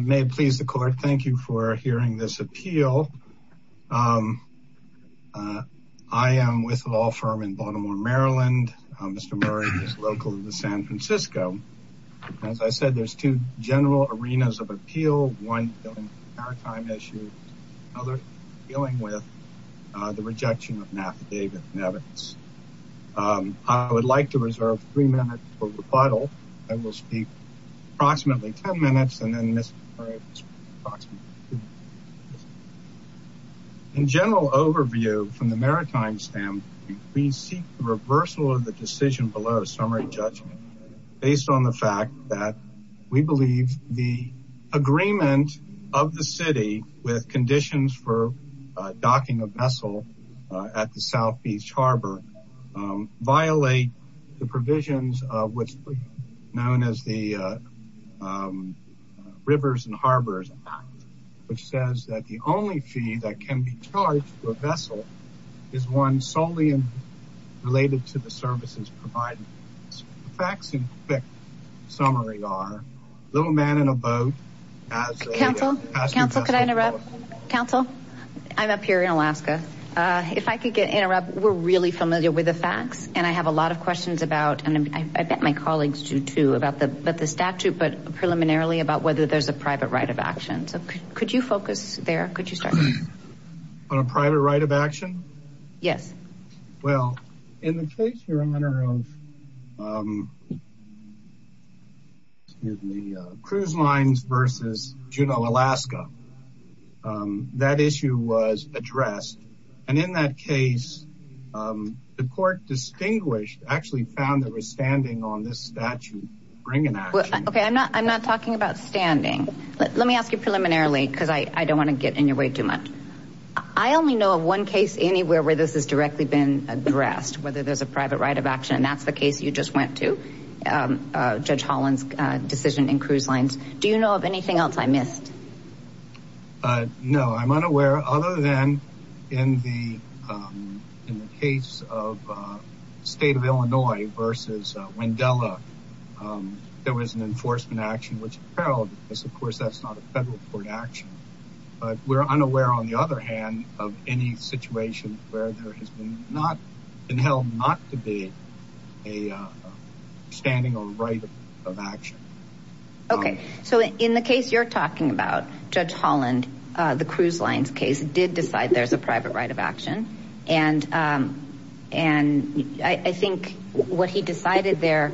May it please the court, thank you for hearing this appeal. I am with a law firm in Baltimore, Maryland. Mr. Murray is local to San Francisco. As I said, there's two general arenas of appeal, one dealing with the maritime issue, another dealing with the rejection of an affidavit and evidence. I would like to reserve three minutes for rebuttal. In general overview from the maritime standpoint, we seek the reversal of the decision below summary judgment based on the fact that we believe the agreement of the city with conditions for violate the provisions of what's known as the Rivers and Harbors Act, which says that the only fee that can be charged to a vessel is one solely related to the services provided. Facts and quick summary are Little Man in a Boat... Counsel, counsel, could I interrupt? Counsel, I'm up here in Alaska. If I could interrupt, we're really familiar with the facts and I have a lot of questions about, and I bet my colleagues do too, about the statute, but preliminarily about whether there's a private right of action. So could you focus there? Could you start? On a private right of action? Yes. Well, in the case, Your Honor, of the cruise lines versus Juneau, Alaska, that issue was addressed. And in that case, the court distinguished, actually found that we're standing on this statute. Bring it back. Okay, I'm not I'm not talking about standing. Let me ask you preliminarily, because I don't want to get in your way too much. I only know of one case anywhere where this has directly been addressed, whether there's a private right of action. That's the case you just went to, Judge Holland's decision in cruise lines. Do you know of anything else I missed? No, I'm unaware. Other than in the case of the state of Illinois versus Wendella, there was an enforcement action, which appareled because, of course, that's not a federal court action. But we're unaware, on the other hand, of any situation where there has been not been held not to be a standing on right of action. Okay, so in the case you're talking about, Judge Holland, the cruise lines case, did decide there's a private right of action. And and I think what he decided there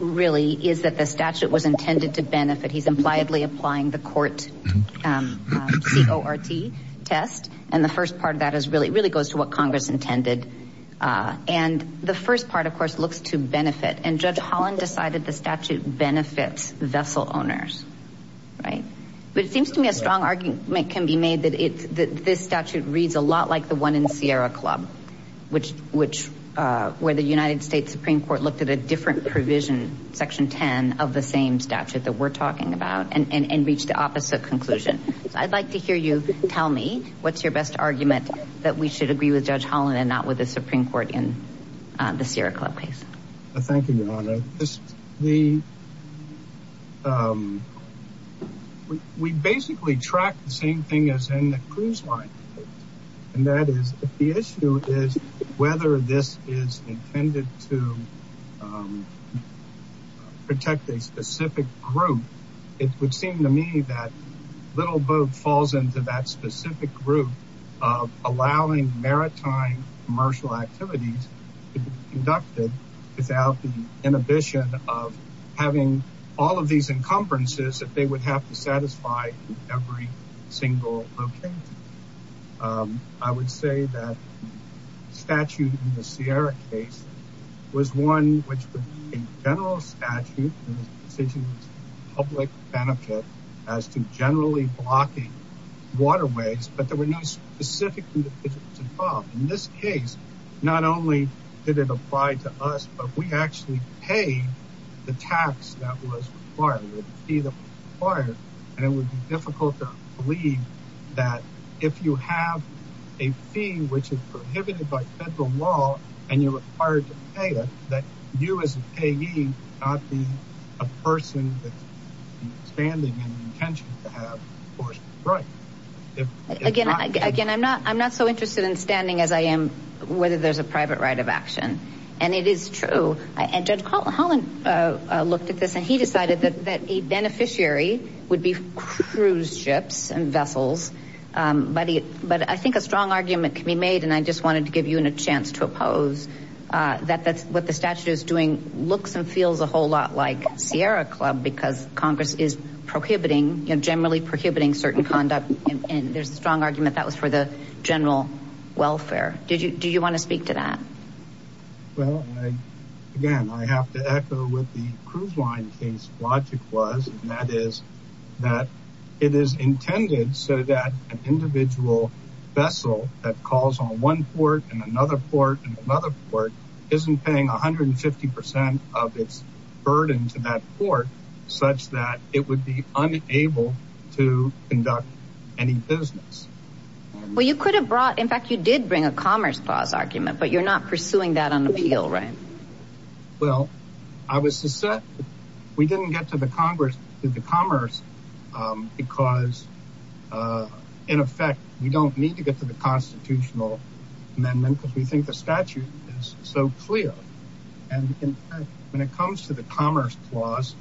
really is that the statute was intended to benefit. He's impliedly applying the court C.O.R.T. test. And the first part of that is really, really goes to what Congress intended. And the first part, of course, looks to benefit. And Judge Holland decided the statute benefits vessel owners. Right. But it seems to me a strong argument can be made that it's this statute reads a lot like the one in Sierra Club, which which where the United States Supreme Court looked at a different provision, Section 10 of the same statute that we're talking about and reached the opposite conclusion. I'd like to hear you tell me what's your best argument that we should agree with Judge Holland and not with the Supreme Court in the Sierra Club case? Thank you, Your Honor. We basically track the same thing as in the cruise line. And that is the issue is whether this is intended to protect a specific group. It would seem to me that Little Boat falls into that specific group of allowing maritime commercial activities conducted without the inhibition of having all of these encumbrances that they would have to satisfy every single location. I would say that statute in the Sierra case was one which would be a general statute public benefit as to generally blocking waterways. But there were no specific individuals involved in this case. Not only did it apply to us, but we actually pay the tax that was required, and it would be difficult to believe that if you have a fee which is prohibited by federal law and you're required to pay it, that you as a payee not be a person that's standing in intention to have forced right. Again, I'm not so interested in standing as I am whether there's a private right of action. And it is true. And Judge Holland looked at this and he said a beneficiary would be cruise ships and vessels. But I think a strong argument can be made, and I just wanted to give you a chance to oppose, that what the statute is doing looks and feels a whole lot like Sierra Club because Congress is prohibiting, generally prohibiting certain conduct. And there's a strong argument that was for the general welfare. Do you want to speak to that? Well, again, I have to echo what the cruise line case logic was, and that is that it is intended so that an individual vessel that calls on one port and another port and another port isn't paying 150 percent of its burden to that port such that it would be unable to conduct any business. Well, you could have brought, in fact you did bring a commerce clause argument, but you're not pursuing that on appeal, right? Well, I was to say we didn't get to the Congress, to the commerce because, in effect, we don't need to get to the constitutional amendment because we think the statute is so clear. And in fact, when it comes to the commerce clause,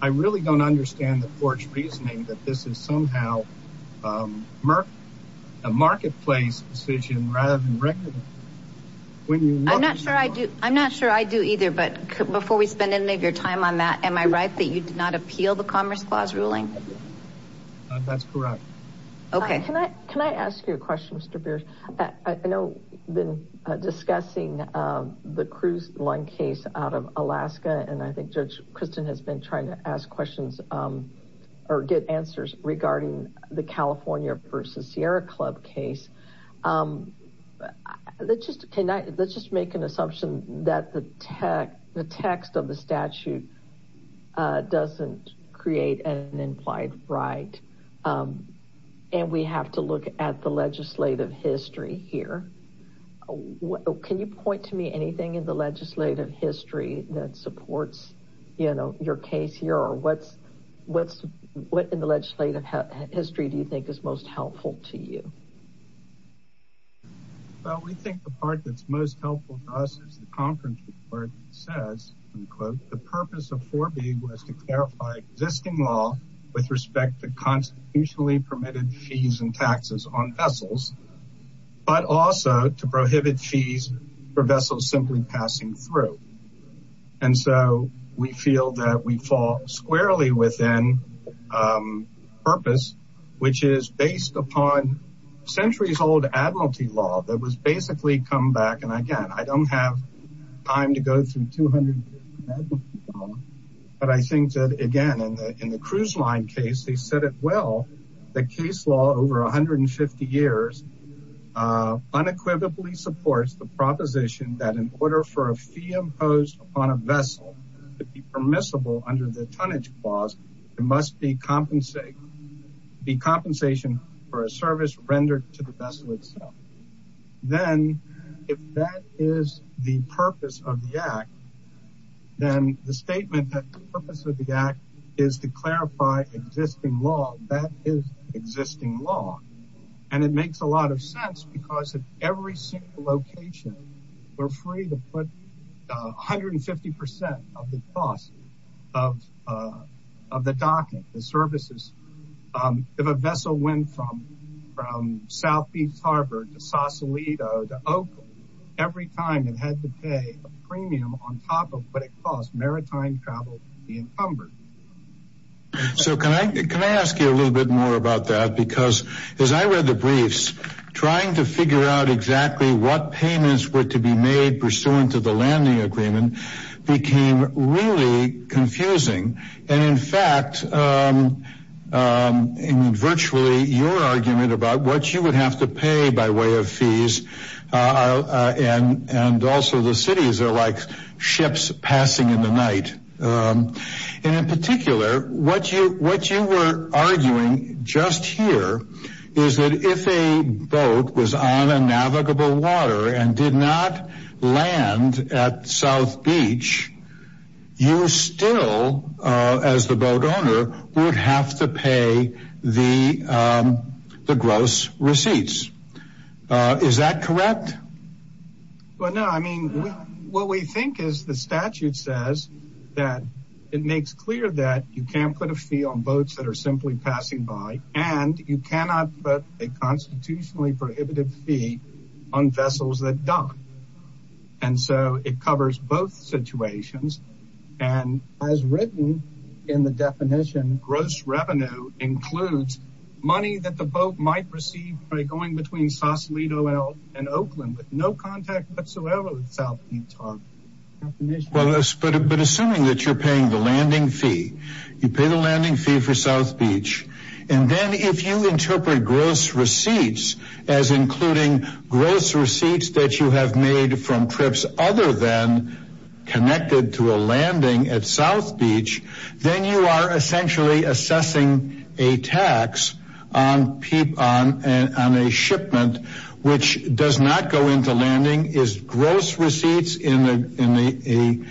I really don't understand the court's reasoning that this is somehow a marketplace decision rather than when you look. I'm not sure I do. I'm not sure I do either. But before we spend any of your time on that, am I right that you did not appeal the commerce clause ruling? That's correct. Okay. Can I ask you a question, Mr. Beers? I know you've been discussing the cruise line case out of Alaska, and I think Judge Kristen has been trying to ask questions or get answers regarding the California versus Sierra Club case. Let's just make an assumption that the text of the statute doesn't create an implied right, and we have to look at the legislative history here. Can you point to me anything in the legislative history that supports, you know, your case here, what in the legislative history do you think is most helpful to you? Well, we think the part that's most helpful to us is the conference report that says, the purpose of 4B was to clarify existing law with respect to constitutionally permitted fees and taxes on vessels, but also to prohibit fees for vessels simply passing through. And so we feel that we fall squarely within purpose, which is based upon centuries-old admiralty law that was basically come back. And again, I don't have time to go through 200, but I think that, again, in the cruise line case, they said it well, the case law over 150 years unequivocally supports the proposition that in order for a fee imposed upon a vessel to be permissible under the tonnage clause, there must be compensation for a service rendered to the vessel itself. Then if that is the purpose of the act, then the statement that the purpose of the act is to clarify existing law, that is existing law. And it makes a lot of sense because at every single location, we're free to put 150% of the cost of the docking, the services. If a vessel went from South Beach Harbor to Sausalito, to what it cost, maritime travel would be encumbered. So can I ask you a little bit more about that? Because as I read the briefs, trying to figure out exactly what payments were to be made pursuant to the landing agreement became really confusing. And in fact, in virtually your argument about what you would have to pay by way of fees and also the cities are like ships passing in the night. And in particular, what you were arguing just here is that if a boat was on a navigable water and did not land at South Beach, you still, as the boat owner, would have to pay the gross receipts. Is that correct? Well, no. I mean, what we think is the statute says that it makes clear that you can't put a fee on boats that are simply passing by and you cannot put a constitutionally prohibitive fee on vessels that dock. And so it covers both money that the boat might receive by going between Sausalito and Oakland with no contact whatsoever with South Beach Harbor. But assuming that you're paying the landing fee, you pay the landing fee for South Beach, and then if you interpret gross receipts as including gross receipts that you have made from trips other than connected to a landing at South Beach, then you are essentially assessing a tax on a shipment which does not go into landing is gross receipts in an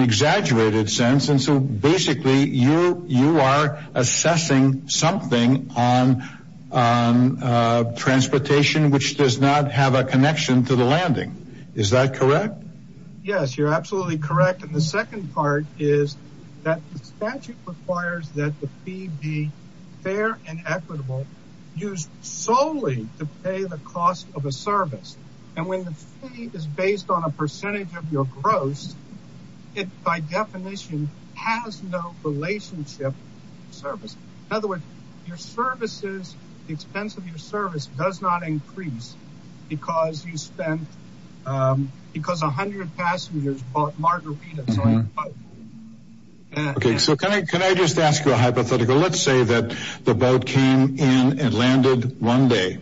exaggerated sense. And so basically, you are assessing something on transportation which does not have a connection to the landing. Is that correct? Yes, you're correct. The statute requires that the fee be fair and equitable, used solely to pay the cost of a service. And when the fee is based on a percentage of your gross, it by definition has no relationship to service. In other words, your services, the expense of your service does not increase because 100 passengers bought margaritas on the boat. Okay, so can I just ask you a hypothetical? Let's say that the boat came in and landed one day.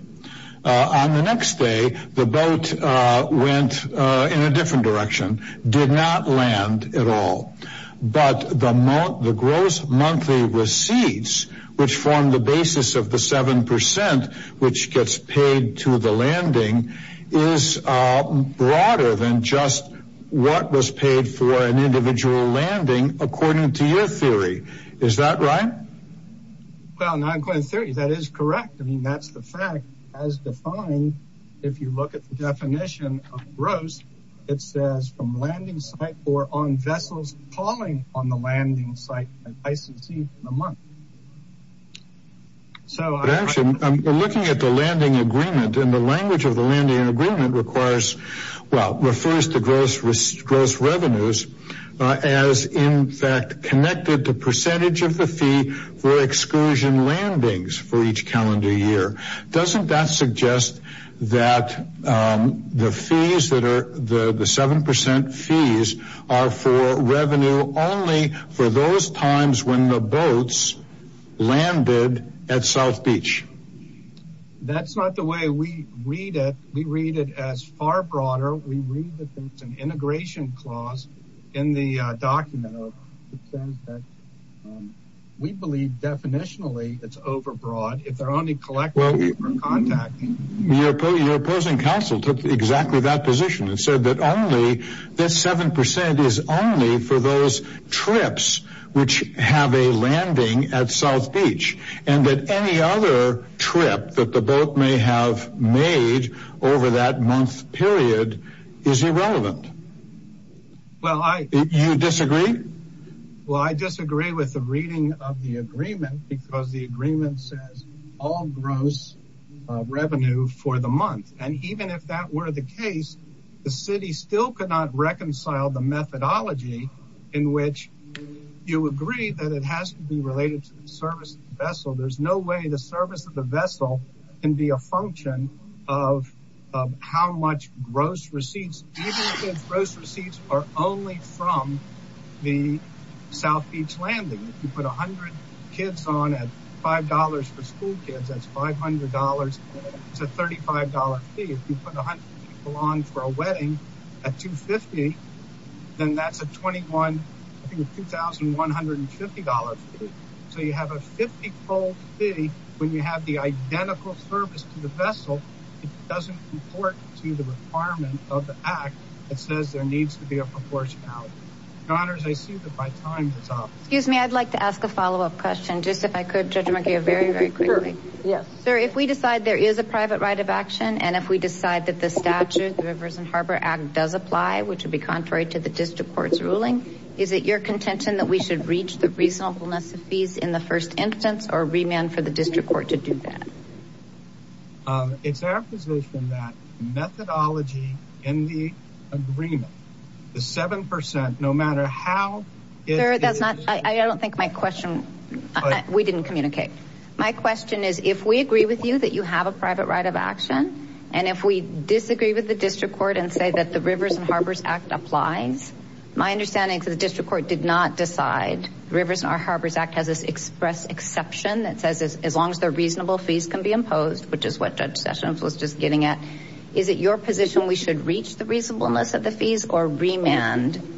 On the next day, the boat went in a different direction, did not land at all. But the gross monthly receipts, which form the basis of the 7%, which gets paid to the landing, is broader than just what was paid for an individual landing, according to your theory. Is that right? Well, that is correct. That is the fact. As defined, if you look at the definition of gross, it says from landing site or on vessels calling on the landing site, I succeed in a month. So actually, I'm looking at the landing agreement and the language of the landing agreement refers to gross revenues as in fact connected to percentage of the fee for excursion landings for each calendar year. Doesn't that suggest that the 7% fees are for revenue only for those times when the boats landed at South Beach? That's not the way we read it. We read it as far broader. We read it as an integration clause in the document that says that we believe definitionally it's overbroad if they're only collecting or contacting. Your opposing counsel took exactly that position and said that only this 7% is only for those trips which have a landing at South Beach and that any other trip that the boat may have made over that month period is irrelevant. Do you disagree? Well, I disagree with the reading of the agreement because the agreement says all gross revenue for the month and even if that were the case, the city still could not reconcile the methodology in which you agree that it has to be related to the service of the vessel. There's way the service of the vessel can be a function of how much gross receipts, even if those gross receipts are only from the South Beach landing. If you put 100 kids on at $5 for school kids, that's $500. It's a $35 fee. If you put 100 people on for a wedding at $250, then that's a $2150 fee. So you have a $50 fee when you have the identical service to the vessel. It doesn't report to the requirement of the act that says there needs to be a proportionality. Your honors, I see that my time is up. Excuse me, I'd like to ask a follow-up question. Just if I could, Judge McGeo, very, very quickly. Yes. Sir, if we decide there is a private right of action and if we decide that the statute, the Rivers and Harbor Act does apply, which would be contrary to the district court's ruling, is it your contention that we should reach the reasonableness of fees in the first instance or remand for the district court to do that? It's our position that methodology in the agreement, the 7%, no matter how it is... Sir, that's not... I don't think my question... We didn't communicate. My question is, if we agree with you that you have a private right of action, and if we disagree with the My understanding is that the district court did not decide. The Rivers and Harbor Act has this express exception that says as long as the reasonable fees can be imposed, which is what Judge Sessions was just getting at, is it your position we should reach the reasonableness of the fees or remand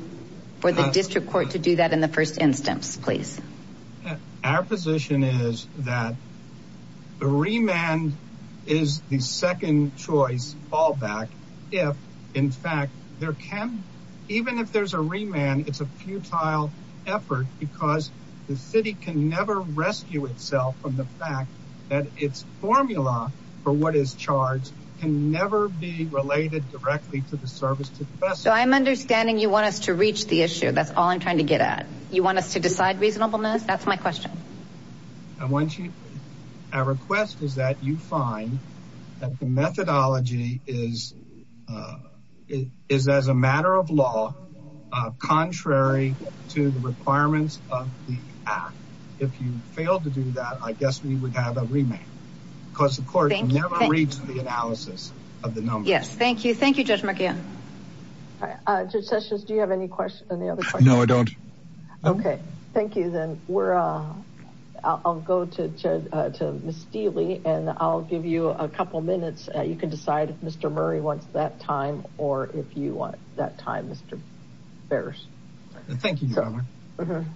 for the district court to do that in the first instance, please? Our position is that the remand is the second choice fallback if, in fact, there can... Even if there's a remand, it's a futile effort because the city can never rescue itself from the fact that its formula for what is charged can never be related directly to the service. I'm understanding you want us to reach the issue. That's all I'm trying to get at. You want us to decide reasonableness? That's my question. Our request is that you find that the methodology is as a matter of law, contrary to the requirements of the act. If you fail to do that, I guess we would have a remand because the court can never reach the analysis of the numbers. Yes, thank you. Thank you, Judge McGinn. Judge Sessions, do you have any questions on the other side? No, I don't. Okay. Thank you, then. I'll go to Ms. Steele and I'll give you a couple minutes. You can decide if Mr. Murray wants that time or if you want that time, Mr. Behrs. Thank you, Your Honor. Good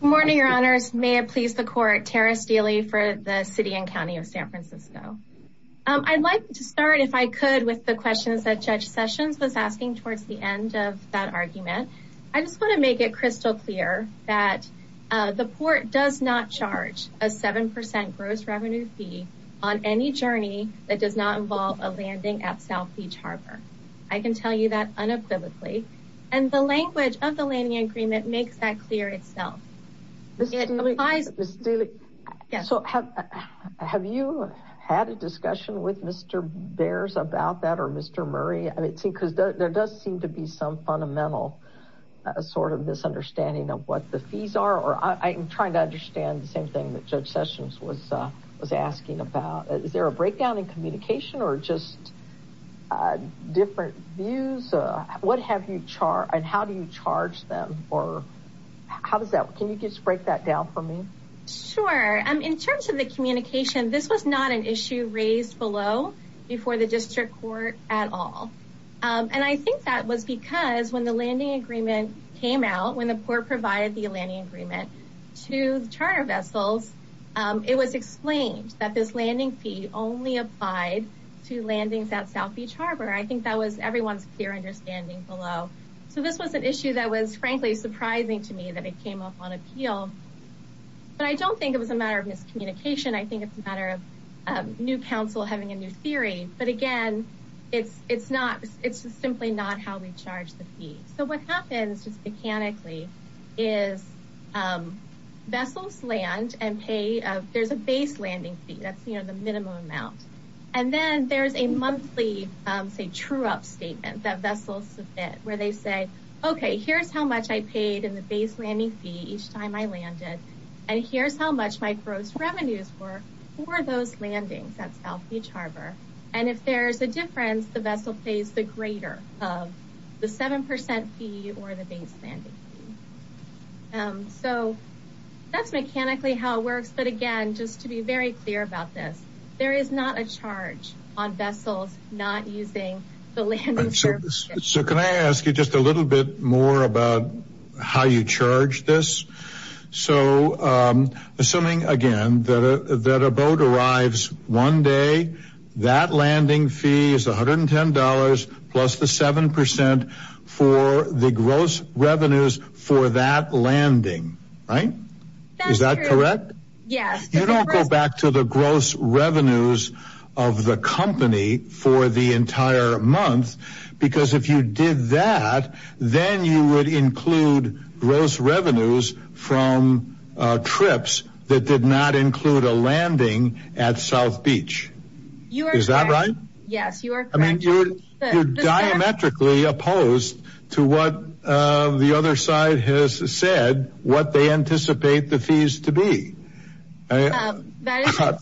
morning, Your Honors. May it please the court, Tara Steele for the city and county of San Francisco. I'd like to start, if I could, with the questions that Judge Sessions was asking towards the end of that argument. I just want to make it crystal clear that the court does not charge a 7% gross revenue fee on any journey that does not involve a landing at South Beach Harbor. I can tell you that unequivocally, and the language of the landing agreement makes that clear itself. Ms. Steele, have you had a discussion with Mr. Behrs about that or Mr. Behrs, there does seem to be some fundamental sort of misunderstanding of what the fees are, or I'm trying to understand the same thing that Judge Sessions was asking about. Is there a breakdown in communication or just different views? What have you charged and how do you charge them? Can you just break that down for me? Sure. In terms of the communication, this was not an issue raised below before the district court at all. I think that was because when the landing agreement came out, when the court provided the landing agreement to the charter vessels, it was explained that this landing fee only applied to landings at South Beach Harbor. I think that was everyone's clear understanding below. So this was an issue that was frankly surprising to me that it came up on appeal. But I don't think it was a matter of miscommunication. I think it's a matter of new counsel having a new theory. But again, it's just simply not how we charge the fee. So what happens just mechanically is vessels land and pay. There's a base landing fee. That's the minimum amount. And then there's a monthly say true up statement that vessels submit where they say, okay, here's how much I paid in the base landing fee each time I landed. And here's how much my gross revenues were for those landings at South Beach Harbor. And if there's a difference, the vessel pays the greater of the 7% fee or the base landing fee. So that's mechanically how it works. But again, just to be very clear about this, there is not a charge on vessels not using the landing service. So can I ask you just a little bit more about how you charge this? So assuming again, that a boat arrives one day, that landing fee is $110 plus the 7% for the gross revenues for that landing, right? Is that correct? Yes. You don't go back to the gross revenues of the company for the entire month. Because if you did that, then you would include gross revenues from trips that did not include a landing at South Beach. Is that right? Yes, you are. I mean, you're diametrically opposed to what the other side has said, what they anticipate the fees to be. Sorry, I didn't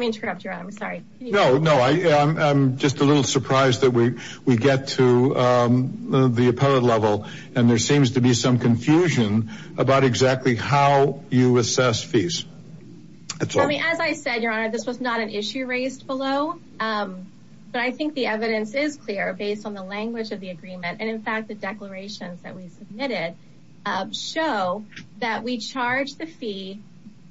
mean to interrupt you. I'm sorry. No, no, I'm just a little surprised that we get to the appellate level. And there seems to be some confusion about exactly how you assess fees. I mean, as I said, Your Honor, this was not an issue raised below. But I think the evidence is clear based on the language of the agreement. And in fact, the declarations that we submitted show that we charge the fee,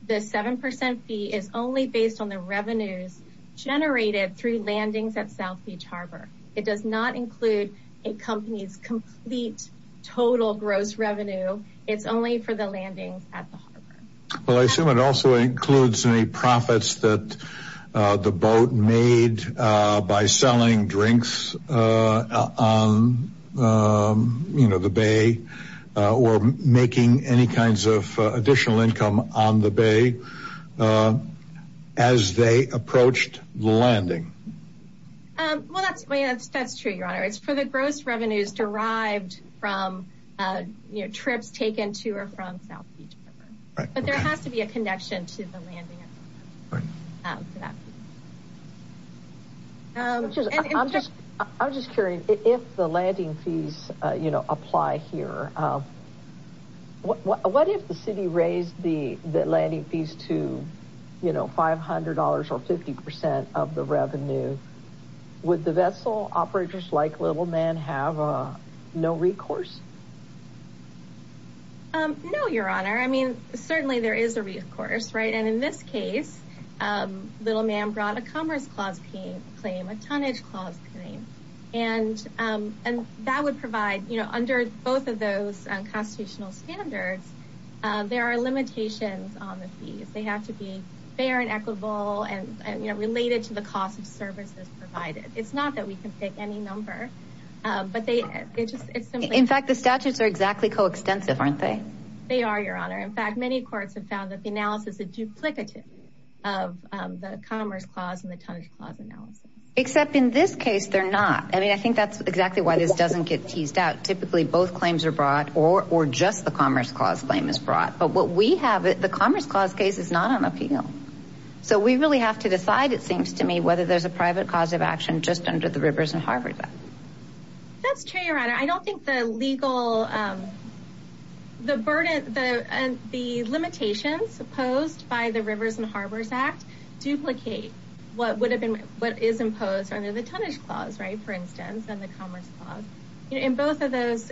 the 7% fee is only based on the revenues generated through landings at South Beach Harbor. It does not include a company's complete total gross revenue. It's only for the landings at the harbor. Well, I assume it also includes any profits that the boat made by selling drinks on the bay or making any kinds of additional income on the bay as they approached the landing. Well, that's true, Your Honor. It's for the gross revenues derived from trips taken to or from South Beach Harbor. But there has to be a connection to the landing. Pardon? I'm just curious, if the landing fees apply here, what if the city raised the landing fees to $500 or 50% of the revenue? Would the vessel operators like Little Man have no recourse? No, Your Honor. I mean, certainly there is a recourse, right? And in this case, Little Man brought a Commerce Clause claim, a Tonnage Clause claim. And that would provide, you know, under both of those constitutional standards, there are limitations on the fees. They have to be fair and equitable and related to the cost of services provided. It's not that we can pick any number. In fact, the statutes are exactly coextensive, aren't they? They are, Your Honor. In fact, many courts have found that the analysis is duplicative of the Commerce Clause and the Tonnage Clause analysis. Except in this case, they're not. I mean, I think that's exactly why this doesn't get teased out. Typically, both claims are brought or just the Commerce Clause claim is brought. But what we have, the Commerce Clause case is not on appeal. So we really have to decide, it seems to me, there's a private cause of action just under the Rivers and Harbors Act. That's true, Your Honor. I don't think the legal, the burden, the limitations posed by the Rivers and Harbors Act duplicate what would have been, what is imposed under the Tonnage Clause, right, for instance, and the Commerce Clause. In both of those,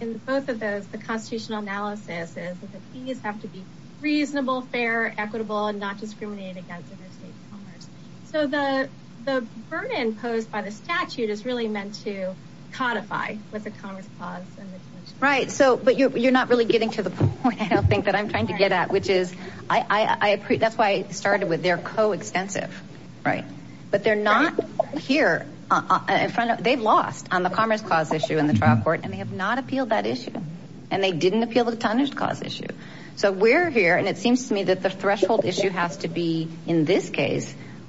in both of those, the constitutional analysis is that the fees have to be reasonable, fair, equitable, and not discriminated against under State Commerce. So the burden posed by the statute is really meant to codify with the Commerce Clause. Right. So, but you're not really getting to the point, I don't think, that I'm trying to get at, which is, I, that's why I started with, they're co-extensive, right? But they're not here in front of, they've lost on the Commerce Clause issue in the trial court, and they have not appealed that issue. And they didn't appeal the Tonnage Clause issue. So we're here, and it seems to me that the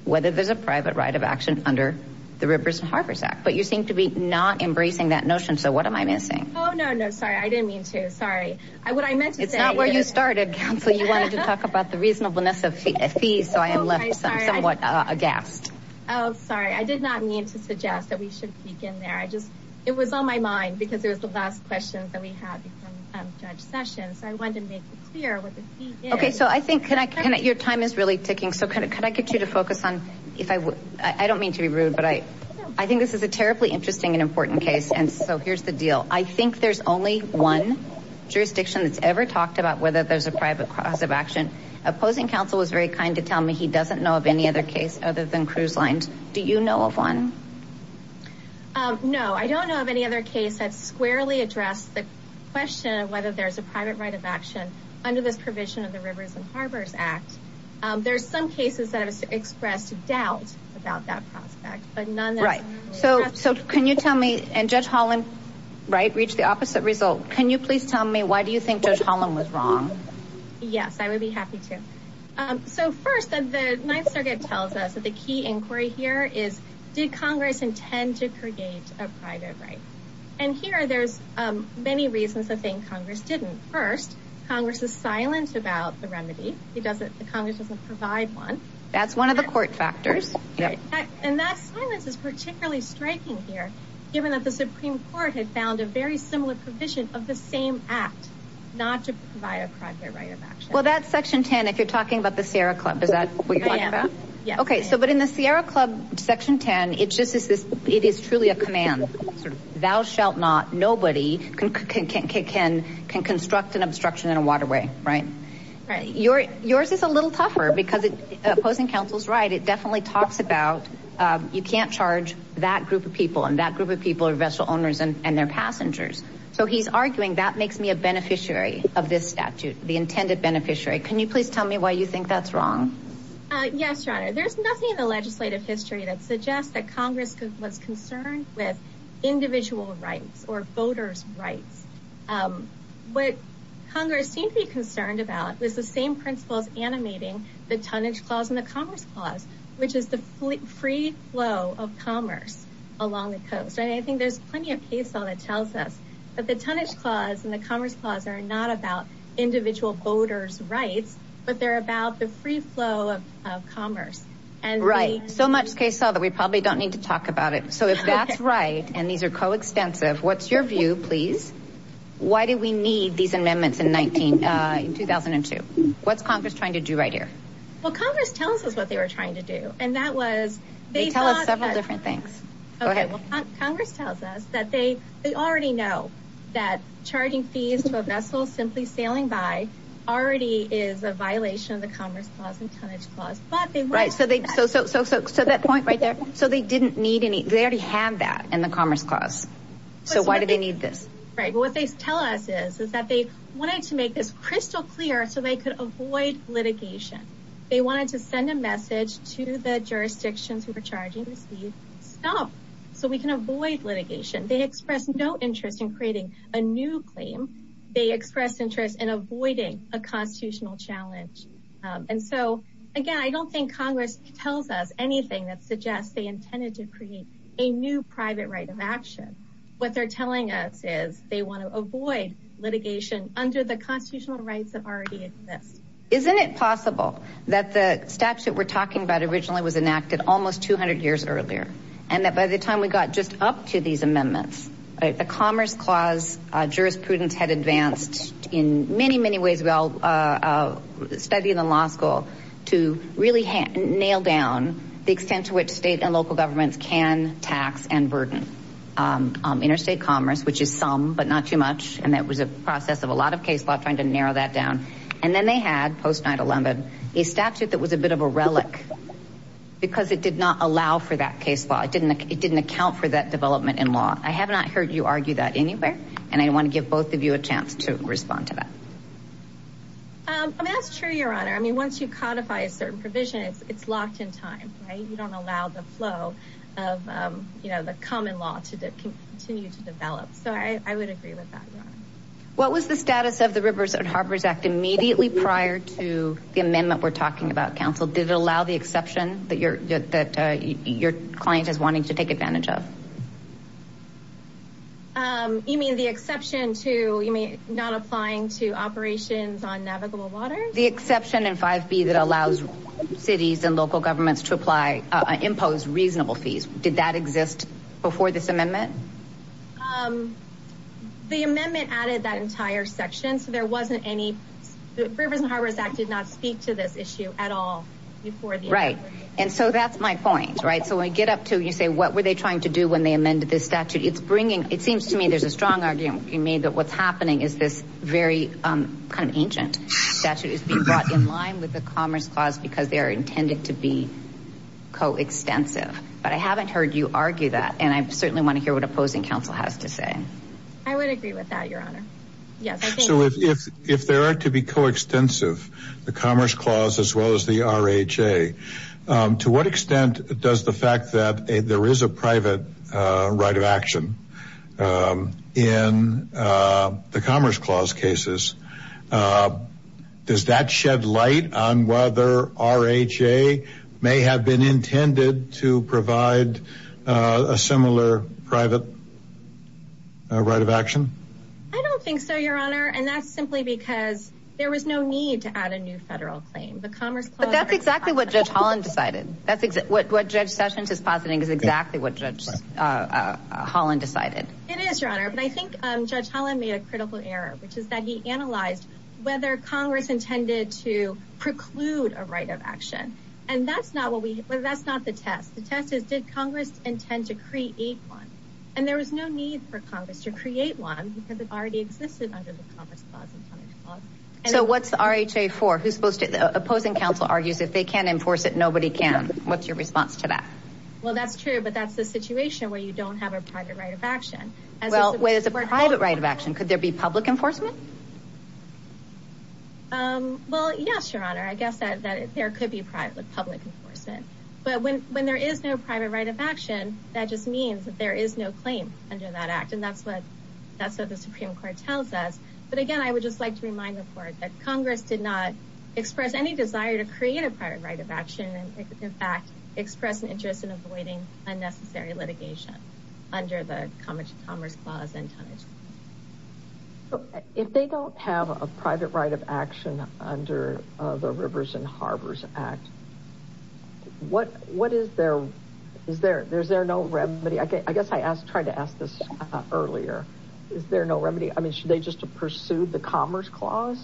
whether there's a private right of action under the Rivers and Harbors Act, but you seem to be not embracing that notion. So what am I missing? Oh, no, no, sorry. I didn't mean to. Sorry. What I meant to say. It's not where you started, Counsel. You wanted to talk about the reasonableness of fees. So I am left somewhat aghast. Oh, sorry. I did not mean to suggest that we should peek in there. I just, it was on my mind because it was the last questions that we had from Judge Sessions. So I wanted to make it clear what the fee is. Okay. So I think, can I, can I, your time is really ticking. So can I get you to focus on, if I would, I don't mean to be rude, but I, I think this is a terribly interesting and important case. And so here's the deal. I think there's only one jurisdiction that's ever talked about whether there's a private cause of action. Opposing Counsel was very kind to tell me he doesn't know of any other case other than cruise lines. Do you know of one? No, I don't know of any other case that squarely addressed the question of whether there's a private right of action under this provision of the Rivers and there's some cases that have expressed doubt about that prospect, but none. Right. So, so can you tell me, and Judge Holland, right. Reach the opposite result. Can you please tell me, why do you think Judge Holland was wrong? Yes, I would be happy to. So first, the Ninth Circuit tells us that the key inquiry here is, did Congress intend to create a private right? And here there's many reasons to think Congress didn't. First, Congress is silent about the remedy. It doesn't, the Congress doesn't provide one. That's one of the court factors. And that silence is particularly striking here, given that the Supreme Court had found a very similar provision of the same act, not to provide a private right of action. Well, that's section 10. If you're talking about the Sierra Club, is that what you're talking about? Yes. Okay. So, but in the Sierra Club section 10, it is truly a command, sort of, thou shalt not, nobody can construct an obstruction in a waterway, right? Right. Yours is a little tougher because it, opposing counsel's right. It definitely talks about, you can't charge that group of people and that group of people are vessel owners and they're passengers. So he's arguing that makes me a beneficiary of this statute, the intended beneficiary. Can you please tell me why you think that's wrong? Yes, Your Honor. There's nothing in the legislative history that suggests that Congress was concerned with individual rights or voters' rights. What Congress seemed to be concerned about was the same principles animating the tonnage clause and the commerce clause, which is the free flow of commerce along the coast. And I think there's plenty of case law that tells us that the tonnage clause and the commerce clause are not about individual voters' rights, but they're about the free flow of commerce. Right. So much case law that we probably don't need to talk about it. So if that's right, and these are co-extensive, what's your view, please? Why do we need these amendments in 2002? What's Congress trying to do right here? Well, Congress tells us what they were trying to do. And that was- They tell us several different things. Go ahead. Congress tells us that they already know that charging fees to a vessel simply sailing by already is a violation of the commerce clause and tonnage clause, but they- Right. So that point right there, so they didn't need any, they already have that in the commerce clause. So why do they need this? Right. But what they tell us is that they wanted to make this crystal clear so they could avoid litigation. They wanted to send a message to the jurisdictions who were charging the fees, stop, so we can avoid litigation. They expressed no interest in creating a new claim. They expressed interest in avoiding a constitutional challenge. And so again, I don't think Congress tells us anything that suggests they intended to create a new private right of action. What they're telling us is they want to avoid litigation under the constitutional rights that already exist. Isn't it possible that the statute we're talking about originally was enacted almost 200 years earlier? And that by the time we got just up to these amendments, the commerce clause jurisprudence had advanced in many, many ways. We all studied in law school to really nail down the extent to which state and local governments can tax and burden interstate commerce, which is some, but not too much. And that was a process of a lot of case law trying to narrow that down. And then they had post 9-11, a statute that was a bit of a relic because it did not allow for that case law. It didn't account for that development in law. I have not heard you argue that anywhere. And I want to give both of you a chance to respond to that. I mean, that's true, your honor. I mean, once you codify a certain provision, it's locked in time, right? You don't allow the flow of the common law to continue to develop. So I would agree with that. What was the status of the Rivers and Harbors Act immediately prior to the amendment we're talking about, counsel? Did it allow the exception that your client is wanting to take advantage of? You mean the exception to not applying to operations on navigable water? The exception in 5B that allows cities and local governments to impose reasonable fees. Did that exist before this amendment? The amendment added that entire section. So there was no issue at all before. Right. And so that's my point, right? So when I get up to you say, what were they trying to do when they amended this statute? It's bringing, it seems to me, there's a strong argument being made that what's happening is this very kind of ancient statute is being brought in line with the commerce clause because they are intended to be co-extensive. But I haven't heard you argue that. And I certainly want to hear what opposing counsel has to say. I would agree with that, your honor. Yes. So if there are to be co-extensive, the commerce clause as well as the RHA, to what extent does the fact that there is a private right of action in the commerce clause cases, does that shed light on whether RHA may have been intended to provide a similar private right of action? I don't think so, your honor. And that's no need to add a new federal claim. But that's exactly what Judge Holland decided. What Judge Sessions is positing is exactly what Judge Holland decided. It is, your honor. But I think Judge Holland made a critical error, which is that he analyzed whether Congress intended to preclude a right of action. And that's not what we, that's not the test. The test is, did Congress intend to create one? And there was no need for Congress to create one because already existed under the commerce clause. So what's the RHA for? Who's supposed to, opposing counsel argues if they can't enforce it, nobody can. What's your response to that? Well, that's true, but that's the situation where you don't have a private right of action. As well, where there's a private right of action, could there be public enforcement? Well, yes, your honor. I guess that there could be private public enforcement, but when, when there is no private right of action, that just means that there is no claim under that act. And that's what, that's what the Supreme Court tells us. But again, I would just like to remind the court that Congress did not express any desire to create a private right of action. And in fact, express an interest in avoiding unnecessary litigation under the commerce clause. If they don't have a private right of action under the Rivers and Rivers Act, should they just pursue the commerce clause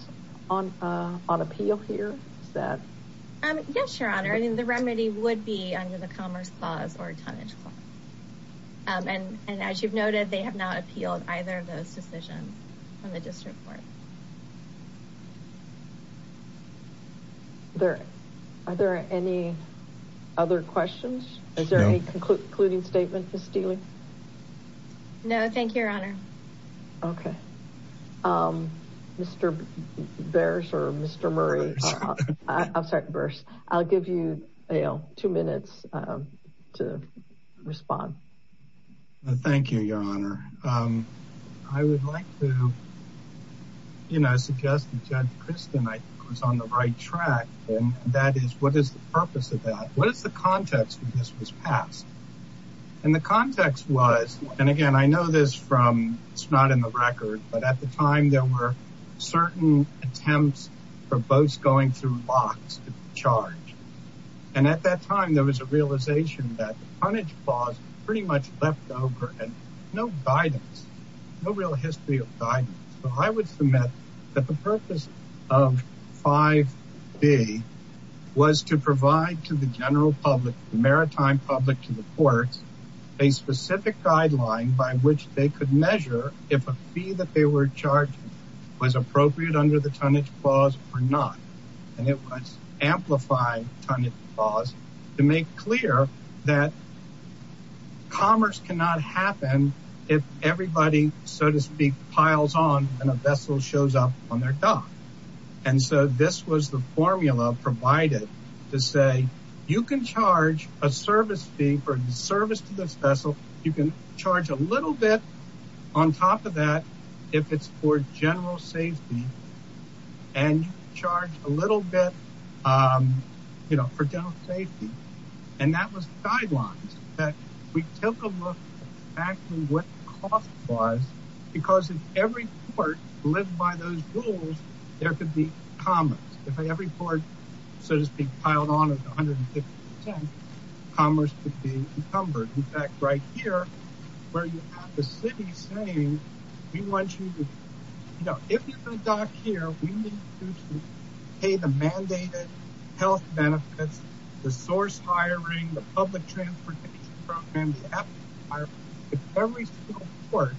on appeal here? Yes, your honor. I mean, the remedy would be under the commerce clause or tonnage clause. And as you've noted, they have not appealed either of those decisions from the district court. Are there any other questions? Is there any concluding statement for Steeley? No, thank you, your honor. Okay. Mr. Burse or Mr. Murray. I'm sorry, Burse. I'll give you two minutes to respond. Thank you, your honor. I would like to, you know, suggest that Judge Kristen was on the right track. And that is, what is the purpose of that? What is the context when this was passed? And the context was, and again, I know this from, it's not in the record, but at the time there were certain attempts for boats going through locks to charge. And at that time, there was a realization that the tonnage clause pretty much left over and no guidance, no real history of guidance. So I would submit that the purpose of 5B was to provide to the general public, the maritime public, to the courts a specific guideline by which they could measure if a fee that they were charging was appropriate under the tonnage clause or not. And it was amplified tonnage clause to make clear that commerce cannot happen if everybody, so to speak, piles on and a vessel shows up on their dock. And so this was the formula provided to say, you can charge a service fee for the service to this vessel. You can charge a little bit on top of that if it's for general safety and charge a little bit for general safety. And that was the guidelines that we took a look back to what the cost was, because if every port lived by those rules, there could be commerce. If every port, so to speak, piled on at 150%, commerce could be encumbered. In fact, right here where you have the city saying, we want you to, you know, if you're going to dock here, we need you to pay the mandated health benefits, the source hiring, the public transportation programs. If every single port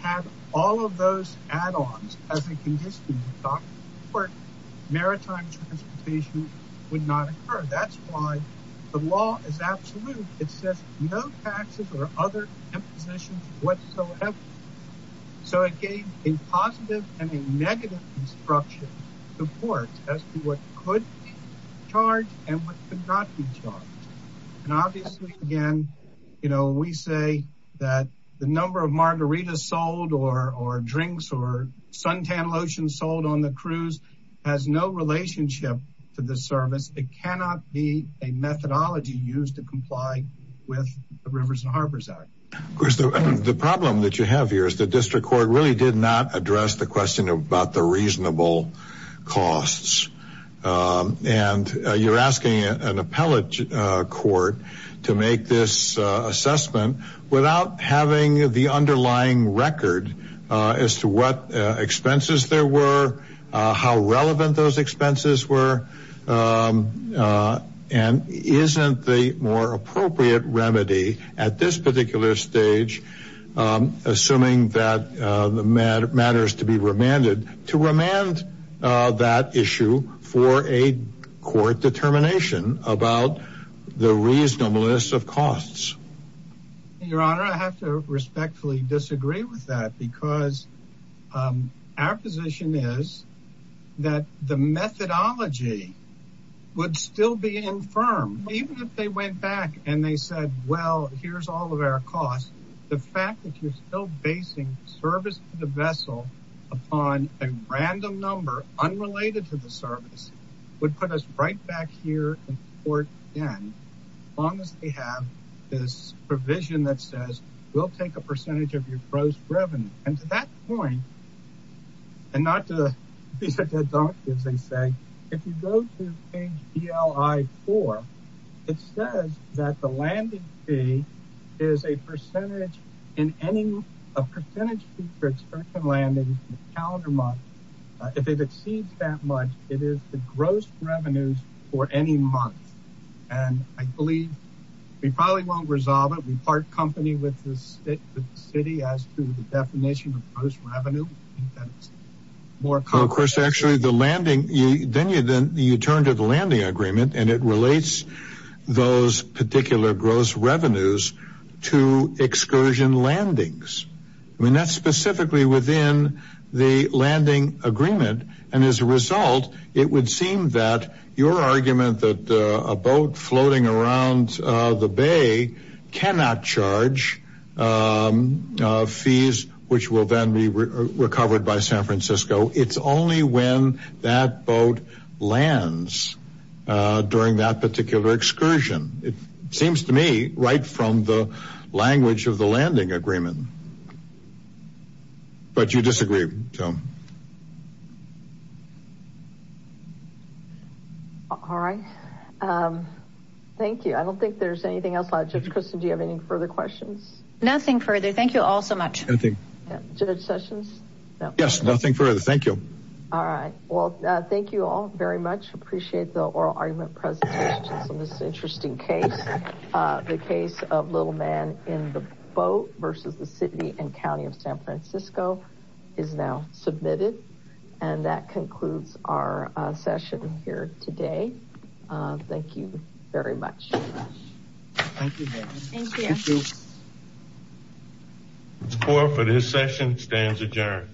had all of those add-ons as a condition of docking support, maritime transportation would not occur. That's why the law is absolute. It says no taxes or other impositions whatsoever. So it gave a positive and a negative construction support as to what could charge and what could not be charged. And obviously again, you know, we say that the number of margaritas sold or drinks or suntan lotion sold on the cruise has no relationship to the service. It cannot be a methodology used to comply with the rivers and Of course, the problem that you have here is the district court really did not address the question about the reasonable costs. And you're asking an appellate court to make this assessment without having the underlying record as to what expenses there were, how relevant those expenses were. And isn't the more appropriate remedy at this particular stage, assuming that the matter matters to be remanded to remand that issue for a court determination about the reasonableness of costs. Your honor, I have to respectfully disagree with that because our position is that the methodology would still be infirm, even if they went back and they said, well, here's all of our costs. The fact that you're still basing service to the vessel upon a random number unrelated to the service would put us right back here in court again, as long as they have this provision that says we'll take a percentage of your gross revenue. And to that point, and not to, these are deductives they say, if you go to page BLI-4, it says that the landing fee is a percentage in any, a percentage fee for a certain landing calendar month. If it exceeds that much, it is the gross revenues for any month. And I believe we probably won't resolve it. We think that's more. Of course, actually the landing, then you, then you turn to the landing agreement and it relates those particular gross revenues to excursion landings. I mean, that's specifically within the landing agreement. And as a result, it would seem that your argument that a boat floating around the bay cannot charge fees, which will then be recovered by San Francisco. It's only when that boat lands during that particular excursion. It seems to me right from the language of the landing agreement. But you disagree, so. All right. Thank you. I don't think there's anything else. Judge Christin, do you have any further questions? Nothing further. Thank you all so much. Judge Sessions? Yes, nothing further. Thank you. All right. Well, thank you all very much. Appreciate the oral argument presentation on this interesting case. The case of Little Man in the Boat versus the City and County of San Francisco is now submitted. And that concludes our session here today. Thank you very much. Thank you, Mary. Thank you. The floor for this session stands adjourned.